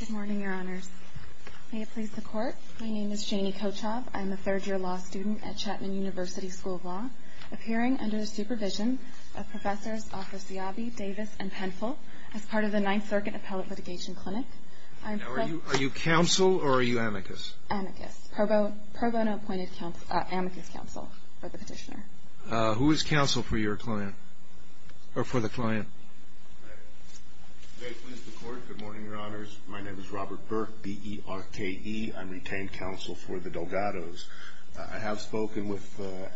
Good morning, Your Honors. May it please the Court, my name is Janie Kochov. I am a third-year law student at Chapman University School of Law, appearing under the supervision of Professors Arthur Siabi, Davis, and Penful as part of the Ninth Circuit Appellate Litigation Clinic. Now, are you counsel or are you amicus? Amicus. Pro bono appointed amicus counsel for the petitioner. Who is counsel for your client, or for the client? May it please the Court, good morning, Your Honors. My name is Robert Burke, B-E-R-K-E. I'm retained counsel for the Delgados. I have spoken with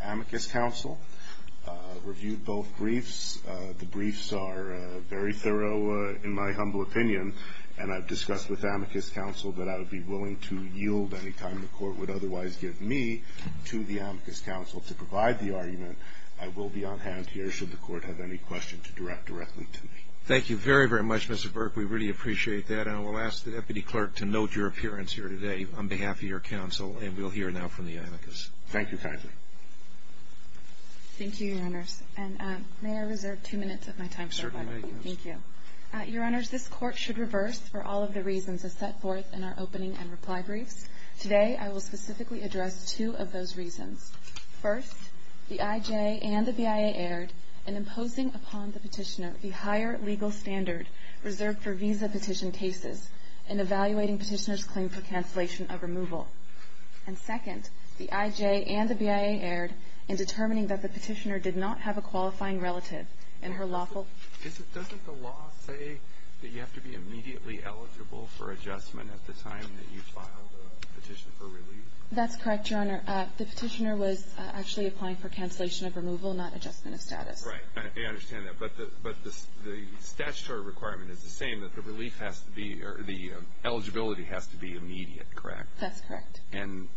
amicus counsel, reviewed both briefs. The briefs are very thorough in my humble opinion, and I've discussed with amicus counsel that I would be willing to yield any time the Court would otherwise give me to the amicus counsel to provide the argument. I will be on hand here should the Court have any questions directly to me. Thank you very, very much, Mr. Burke. We really appreciate that. And I will ask the Deputy Clerk to note your appearance here today on behalf of your counsel, and we'll hear now from the amicus. Thank you kindly. Thank you, Your Honors. And may I reserve two minutes of my time for a question? Certainly. Thank you. Your Honors, this Court should reverse for all of the reasons as set forth in our opening and reply briefs. Today, I will specifically address two of those reasons. First, the IJ and the BIA erred in imposing upon the Petitioner the higher legal standard reserved for visa petition cases and evaluating Petitioner's claim for cancellation of removal. And second, the IJ and the BIA erred in determining that the Petitioner did not have a qualifying relative and her lawful ---- Doesn't the law say that you have to be immediately eligible for adjustment at the time that you file the petition for relief? That's correct, Your Honor. The Petitioner was actually applying for cancellation of removal, not adjustment of status. Right. I understand that. But the statutory requirement is the same, that the relief has to be or the eligibility has to be immediate, correct? That's correct. And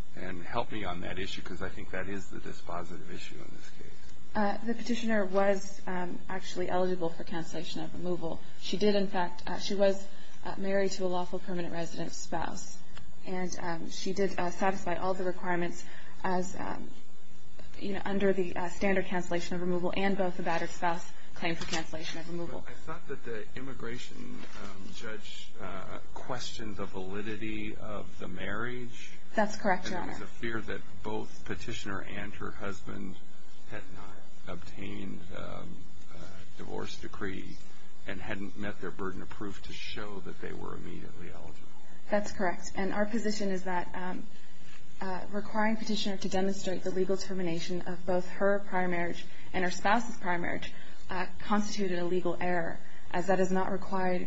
help me on that issue because I think that is the dispositive issue in this case. The Petitioner was actually eligible for cancellation of removal. She did, in fact, she was married to a lawful permanent resident spouse. And she did satisfy all the requirements as, you know, under the standard cancellation of removal and both the battered spouse claim for cancellation of removal. I thought that the immigration judge questioned the validity of the marriage. That's correct, Your Honor. And there was a fear that both Petitioner and her husband had not obtained a divorce decree and hadn't met their burden of proof to show that they were immediately eligible. That's correct. And our position is that requiring Petitioner to demonstrate the legal termination of both her prior marriage and her spouse's prior marriage constituted a legal error as that is not required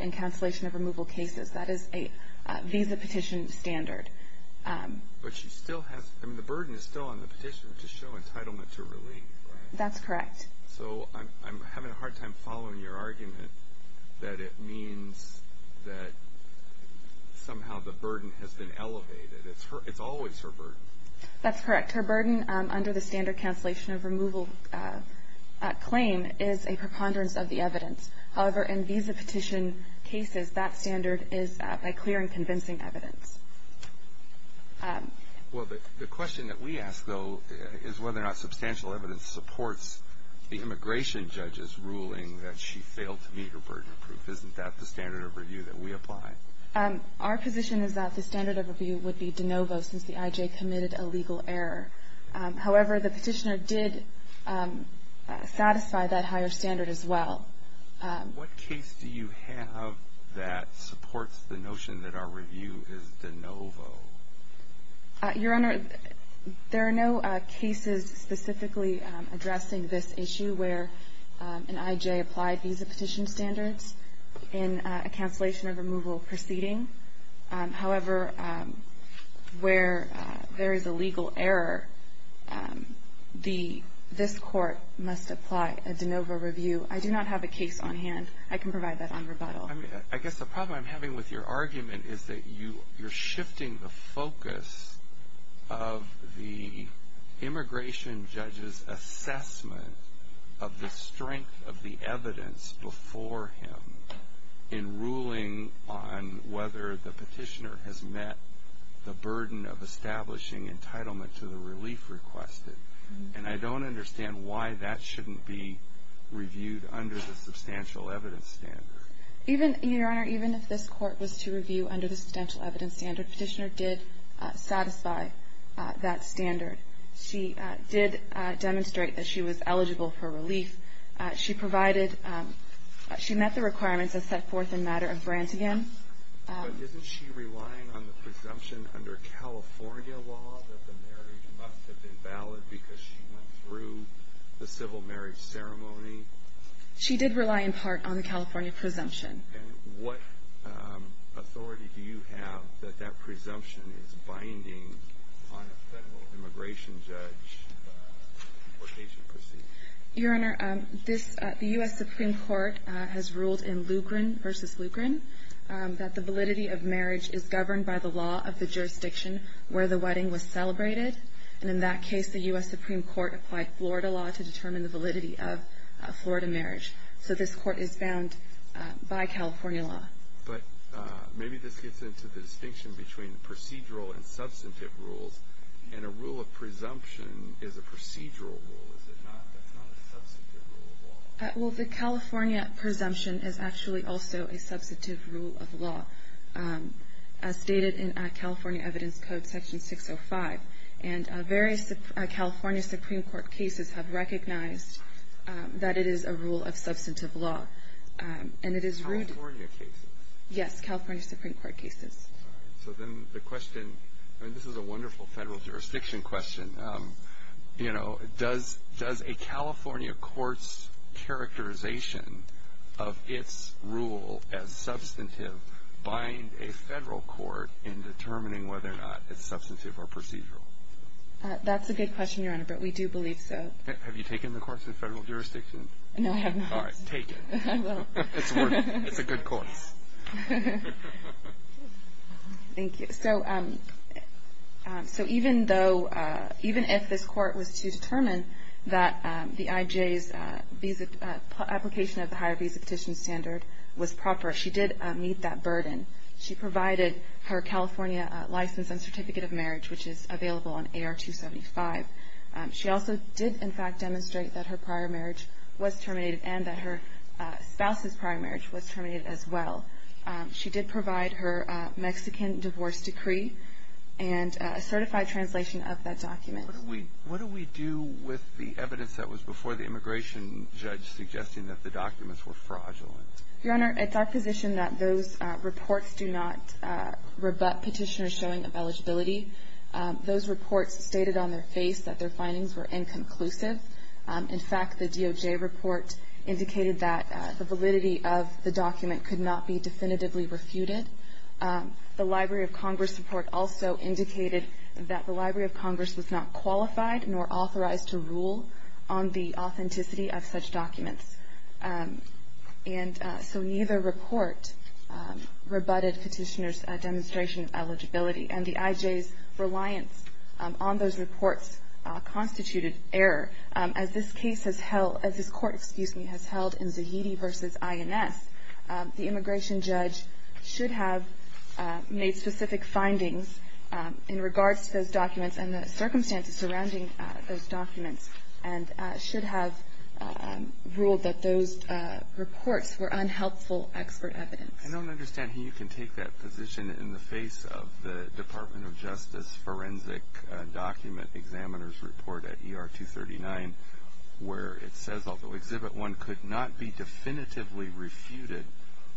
in cancellation of removal cases. That is a visa petition standard. But she still has, I mean, the burden is still on the Petitioner to show entitlement to relief, right? That's correct. So I'm having a hard time following your argument that it means that somehow the burden has been elevated. It's always her burden. That's correct. Her burden under the standard cancellation of removal claim is a preponderance of the evidence. However, in visa petition cases, that standard is by clear and convincing evidence. Well, the question that we ask, though, is whether or not substantial evidence supports the immigration judge's ruling that she failed to meet her burden of proof. Isn't that the standard of review that we apply? Our position is that the standard of review would be de novo since the I.J. committed a legal error. However, the Petitioner did satisfy that higher standard as well. What case do you have that supports the notion that our review is de novo? Your Honor, there are no cases specifically addressing this issue where an I.J. applied visa petition standards in a cancellation of removal proceeding. However, where there is a legal error, this Court must apply a de novo review. I do not have a case on hand. I can provide that on rebuttal. I guess the problem I'm having with your argument is that you're shifting the focus of the immigration judge's assessment of the strength of the evidence before him in ruling on whether the Petitioner has met the burden of establishing entitlement to the relief requested. And I don't understand why that shouldn't be reviewed under the substantial evidence standard. Your Honor, even if this Court was to review under the substantial evidence standard, Petitioner did satisfy that standard. She did demonstrate that she was eligible for relief. She met the requirements as set forth in matter of Brantigan. But isn't she relying on the presumption under California law that the marriage must have been valid because she went through the civil marriage ceremony? She did rely in part on the California presumption. And what authority do you have that that presumption is binding on a Federal immigration judge for a patient proceeding? Your Honor, the U.S. Supreme Court has ruled in Lugren v. Lugren that the validity of marriage is governed by the law of the jurisdiction where the wedding was celebrated. And in that case, the U.S. Supreme Court applied Florida law to determine the validity of Florida marriage. So this Court is bound by California law. But maybe this gets into the distinction between procedural and substantive rules. And a rule of presumption is a procedural rule, is it not? That's not a substantive rule of law. Well, the California presumption is actually also a substantive rule of law, as stated in California Evidence Code Section 605. And various California Supreme Court cases have recognized that it is a rule of substantive law. California cases? Yes, California Supreme Court cases. All right. So then the question, and this is a wonderful Federal jurisdiction question, you know, does a California court's characterization of its rule as substantive bind a Federal court in determining whether or not it's substantive or procedural? That's a good question, Your Honor, but we do believe so. Have you taken the course in Federal jurisdiction? No, I have not. All right, take it. I will. It's a good course. Thank you. So even though, even if this Court was to determine that the I.J.'s application of the higher visa petition standard was proper, she did meet that burden. She provided her California license and certificate of marriage, which is available on AR 275. She also did, in fact, demonstrate that her prior marriage was terminated and that her spouse's prior marriage was terminated as well. She did provide her Mexican divorce decree and a certified translation of that document. What do we do with the evidence that was before the immigration judge suggesting that the documents were fraudulent? Your Honor, it's our position that those reports do not rebut Petitioner's showing of eligibility. Those reports stated on their face that their findings were inconclusive. In fact, the DOJ report indicated that the validity of the document could not be definitively refuted. The Library of Congress report also indicated that the Library of Congress was not qualified nor authorized to rule on the authenticity of such documents. And so neither report rebutted Petitioner's demonstration of eligibility, and the IJ's reliance on those reports constituted error. As this case has held, as this court, excuse me, has held in Zahidi v. INS, the immigration judge should have made specific findings in regards to those documents and the circumstances surrounding those documents, and should have ruled that those reports were unhelpful expert evidence. I don't understand how you can take that position in the face of the Department of Justice forensic document examiner's report at ER 239, where it says although Exhibit 1 could not be definitively refuted,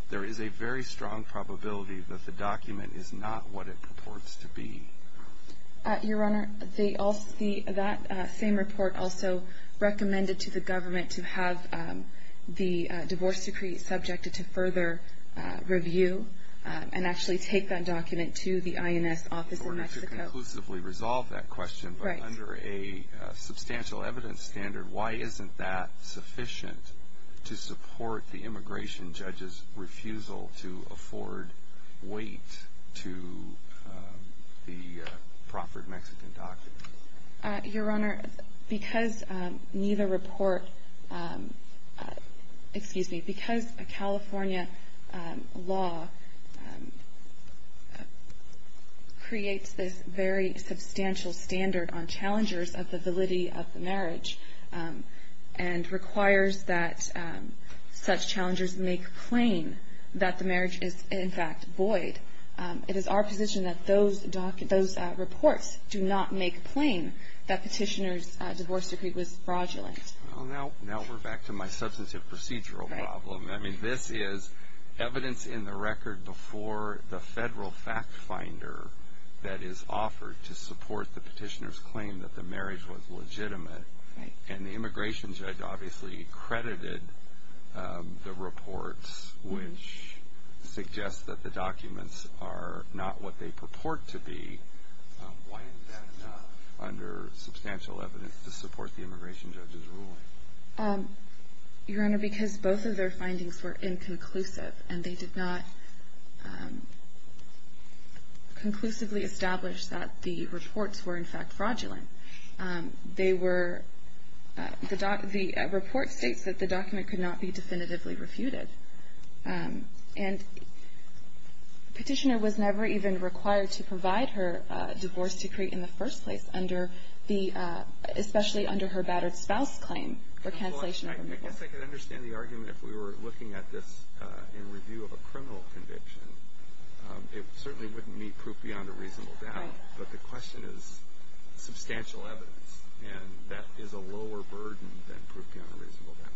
there is a very strong probability that the document is not what it purports to be. Your Honor, that same report also recommended to the government to have the divorce decree subjected to further review and actually take that document to the INS office in Mexico. In order to conclusively resolve that question, but under a substantial evidence standard, why isn't that sufficient to support the immigration judge's refusal to afford weight to the proffered Mexican documents? Your Honor, because neither report, excuse me, because a California law creates this very substantial standard on challengers of the validity of the marriage and requires that such challengers make plain that the marriage is, in fact, void, it is our position that those reports do not make plain that petitioner's divorce decree was fraudulent. Well, now we're back to my substantive procedural problem. I mean, this is evidence in the record before the federal fact finder that is offered to support the petitioner's claim that the marriage was legitimate. And the immigration judge obviously credited the reports, which suggest that the documents are not what they purport to be. Why isn't that enough under substantial evidence to support the immigration judge's ruling? Your Honor, because both of their findings were inconclusive and they did not conclusively establish that the reports were, in fact, fraudulent. They were, the report states that the document could not be definitively refuted. And petitioner was never even required to provide her divorce decree in the first place under the, especially under her battered spouse claim for cancellation of remittal. I guess I could understand the argument if we were looking at this in review of a criminal conviction. It certainly wouldn't meet proof beyond a reasonable doubt. Right. But the question is substantial evidence. And that is a lower burden than proof beyond a reasonable doubt.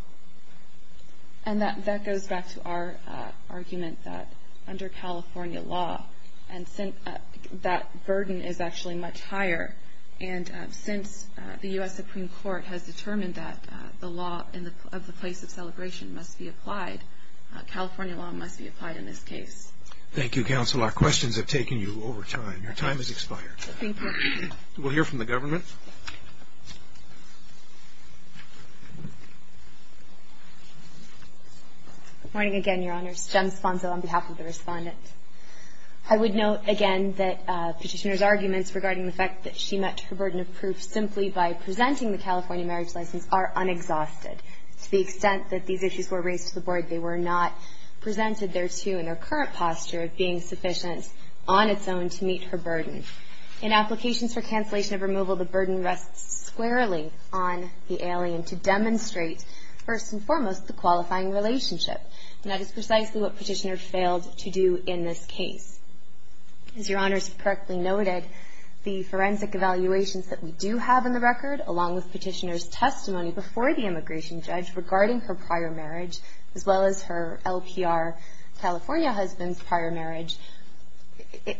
And that goes back to our argument that under California law, that burden is actually much higher. And since the U.S. Supreme Court has determined that the law of the place of celebration must be applied, California law must be applied in this case. Thank you, counsel. Our questions have taken you over time. Your time has expired. Thank you. We'll hear from the government. Good morning again, Your Honors. Jem Sponzo on behalf of the Respondent. I would note again that Petitioner's arguments regarding the fact that she met her burden of proof simply by presenting the California marriage license are unexhausted. To the extent that these issues were raised to the Board, they were not presented thereto in their current posture of being sufficient on its own to meet her burden. In applications for cancellation of removal, the burden rests squarely on the alien to demonstrate first and foremost the qualifying relationship. And that is precisely what Petitioner failed to do in this case. As Your Honors correctly noted, the forensic evaluations that we do have in the record, along with Petitioner's testimony before the immigration judge regarding her prior marriage, as well as her LPR California husband's prior marriage,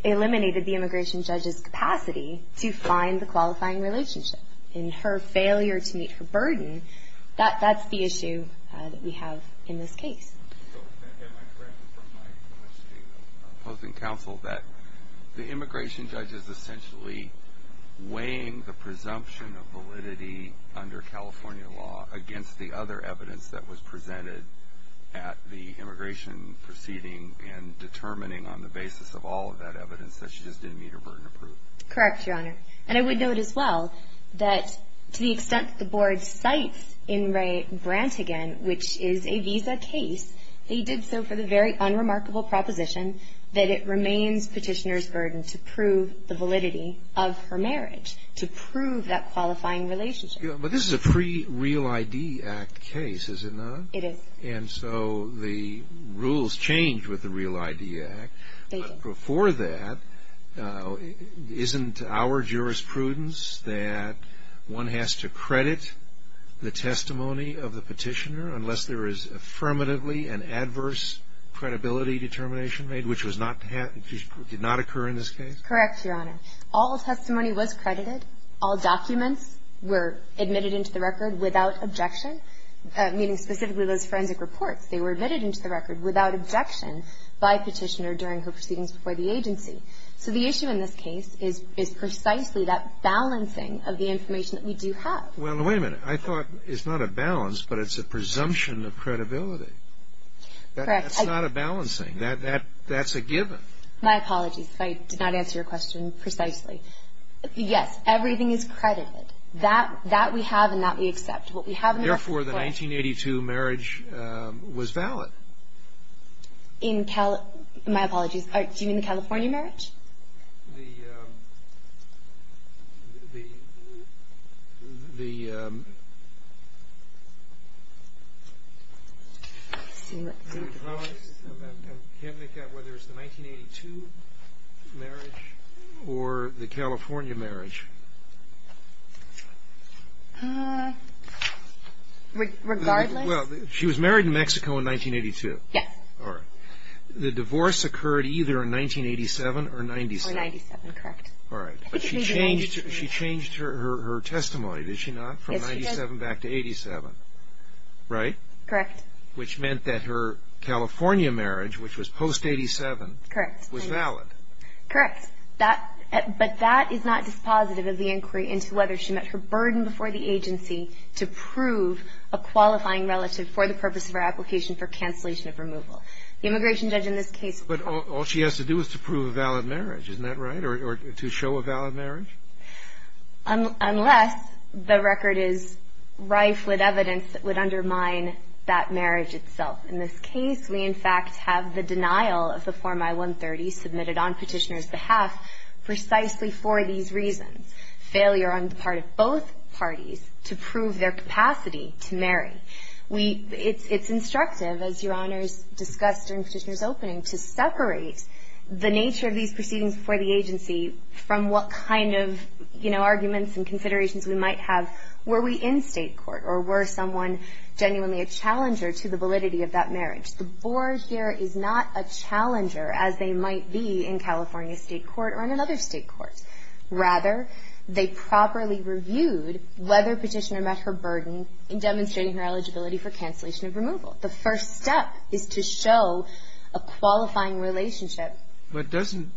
eliminated the immigration judge's capacity to find the qualifying relationship. In her failure to meet her burden, that's the issue that we have in this case. So am I correct from my question of opposing counsel that the immigration judge is essentially weighing the presumption of validity under California law against the other evidence that was presented at the immigration proceeding and determining on the basis of all of that evidence that she just didn't meet her burden of proof? Correct, Your Honor. And I would note as well that to the extent that the Board cites Ingray-Brantigan, which is a visa case, they did so for the very unremarkable proposition that it remains Petitioner's burden to prove the validity of her marriage, to prove that qualifying relationship. But this is a pre-Real ID Act case, is it not? It is. And so the rules change with the Real ID Act. But before that, isn't our jurisprudence that one has to credit the testimony of the Petitioner unless there is affirmatively an adverse credibility determination made, which did not occur in this case? Correct, Your Honor. All testimony was credited. All documents were admitted into the record without objection, meaning specifically those forensic reports. They were admitted into the record without objection by Petitioner during her proceedings before the agency. So the issue in this case is precisely that balancing of the information that we do have. Well, wait a minute. I thought it's not a balance, but it's a presumption of credibility. Correct. That's not a balancing. That's a given. My apologies. I did not answer your question precisely. Yes. Everything is credited. That we have and that we accept. What we have in our report ---- Therefore, the 1982 marriage was valid. In Cali ---- my apologies. Do you mean the California marriage? The ---- the ---- the ----- marriage or the California marriage? Regardless. Well, she was married in Mexico in 1982. Yes. All right. The divorce occurred either in 1987 or 97. Or 97, correct. All right. But she changed her testimony, did she not? Yes, she did. From 97 back to 87, right? Correct. Which meant that her California marriage, which was post-87, was valid. Correct. That ---- but that is not dispositive of the inquiry into whether she met her burden before the agency to prove a qualifying relative for the purpose of her application for cancellation of removal. The immigration judge in this case ---- But all she has to do is to prove a valid marriage. Isn't that right? Or to show a valid marriage? Unless the record is rife with evidence that would undermine that marriage itself. In this case, we, in fact, have the denial of the Form I-130 submitted on Petitioner's behalf precisely for these reasons. Failure on the part of both parties to prove their capacity to marry. We ---- it's ---- it's instructive, as Your Honors discussed during Petitioner's opening, to separate the nature of these proceedings before the agency from what kind of, you know, arguments and considerations we might have. Were we in State court? Or were someone genuinely a challenger to the validity of that marriage? The Board here is not a challenger, as they might be in California State court or in another State court. Rather, they properly reviewed whether Petitioner met her burden in demonstrating her eligibility for cancellation of removal. The first step is to show a qualifying relationship. But doesn't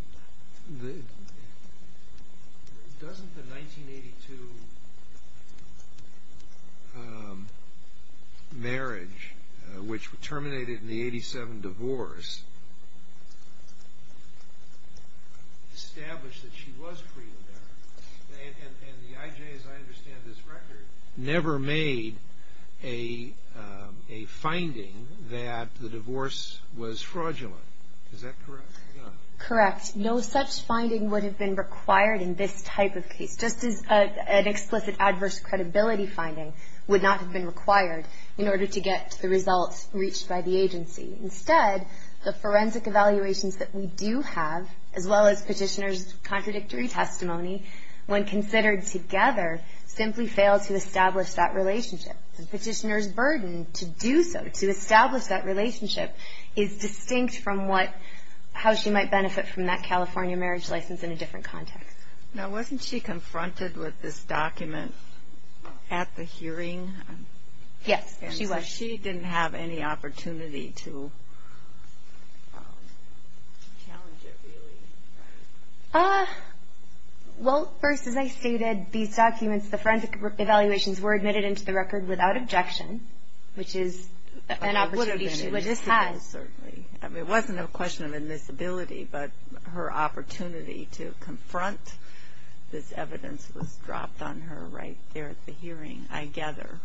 the 1982 marriage, which terminated in the 87 divorce, establish that she was free to marry? And the IJ, as I understand this record, never made a finding that the divorce was fraudulent. Is that correct? Correct. No such finding would have been required in this type of case, just as an explicit adverse credibility finding would not have been required in order to get the results reached by the agency. Instead, the forensic evaluations that we do have, as well as Petitioner's contradictory testimony, when considered together, simply fail to establish that relationship. And Petitioner's burden to do so, to establish that relationship, is distinct from what how she might benefit from that California marriage license in a different context. Now, wasn't she confronted with this document at the hearing? Yes, she was. And so she didn't have any opportunity to challenge it, really? Well, first, as I stated, these documents, the forensic evaluations were admitted into the record without objection, which is an opportunity she would have had. Certainly. It wasn't a question of admissibility, but her opportunity to confront this evidence was dropped on her right there at the hearing, I gather.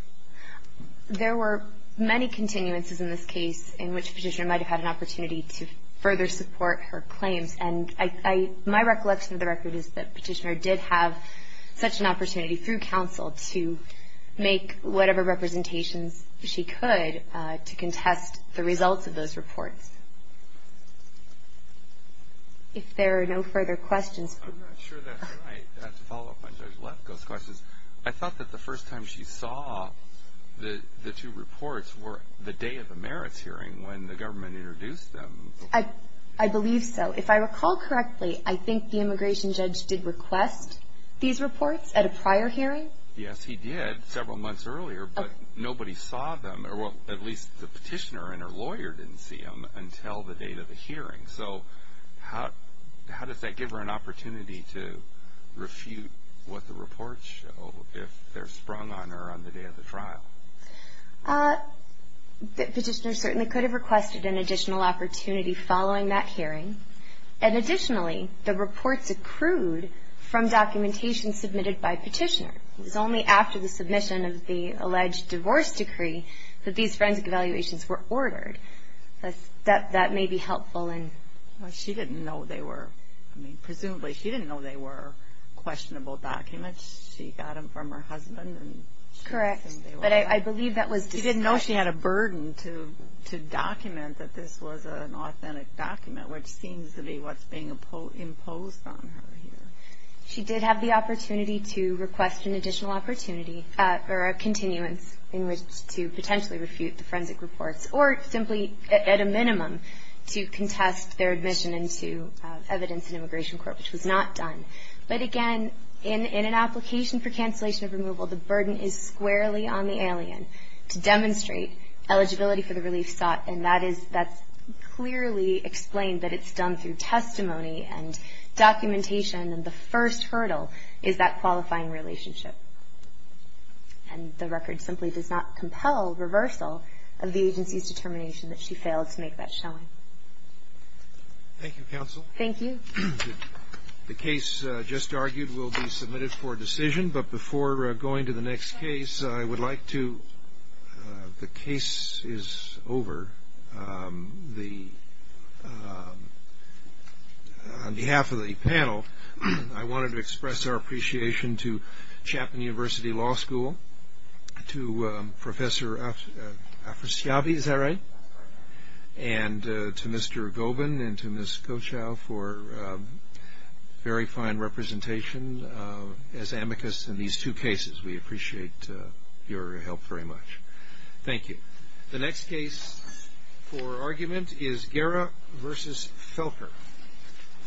There were many continuances in this case in which Petitioner might have had an opportunity to further support her claims. And my recollection of the record is that Petitioner did have such an opportunity through counsel to make whatever representations she could to contest the results of those reports. If there are no further questions. I'm not sure that I have to follow up on Judge Lefkoe's questions. I thought that the first time she saw the two reports were the day of the merits hearing, when the government introduced them. I believe so. If I recall correctly, I think the immigration judge did request these reports at a prior hearing? Yes, he did several months earlier, but nobody saw them, or at least the Petitioner and her lawyer didn't see them until the date of the hearing. So how does that give her an opportunity to refute what the reports show if they're sprung on her on the day of the trial? Petitioner certainly could have requested an additional opportunity following that hearing. And additionally, the reports accrued from documentation submitted by Petitioner. It was only after the submission of the alleged divorce decree that these forensic evaluations were ordered. That may be helpful. She didn't know they were. I mean, presumably she didn't know they were questionable documents. She got them from her husband. Correct. But I believe that was decided. She didn't know she had a burden to document that this was an authentic document, which seems to be what's being imposed on her here. She did have the opportunity to request an additional opportunity or a continuance in which to potentially refute the forensic reports, or simply at a minimum to contest their admission into evidence in immigration court, which was not done. But again, in an application for cancellation of removal, the burden is squarely on the alien to demonstrate eligibility for the relief sought. And that is that's clearly explained that it's done through testimony and documentation. And the first hurdle is that qualifying relationship. And the record simply does not compel reversal of the agency's determination that she failed to make that showing. Thank you, counsel. Thank you. The case just argued will be submitted for decision. But before going to the next case, I would like to the case is over. On behalf of the panel, I wanted to express our appreciation to Chapman University Law School, to Professor Afrasiabi, is that right? And to Mr. Gobin and to Ms. Kochow for very fine representation as amicus in these two cases. We appreciate your help very much. Thank you. The next case for argument is Guerra v. Felker.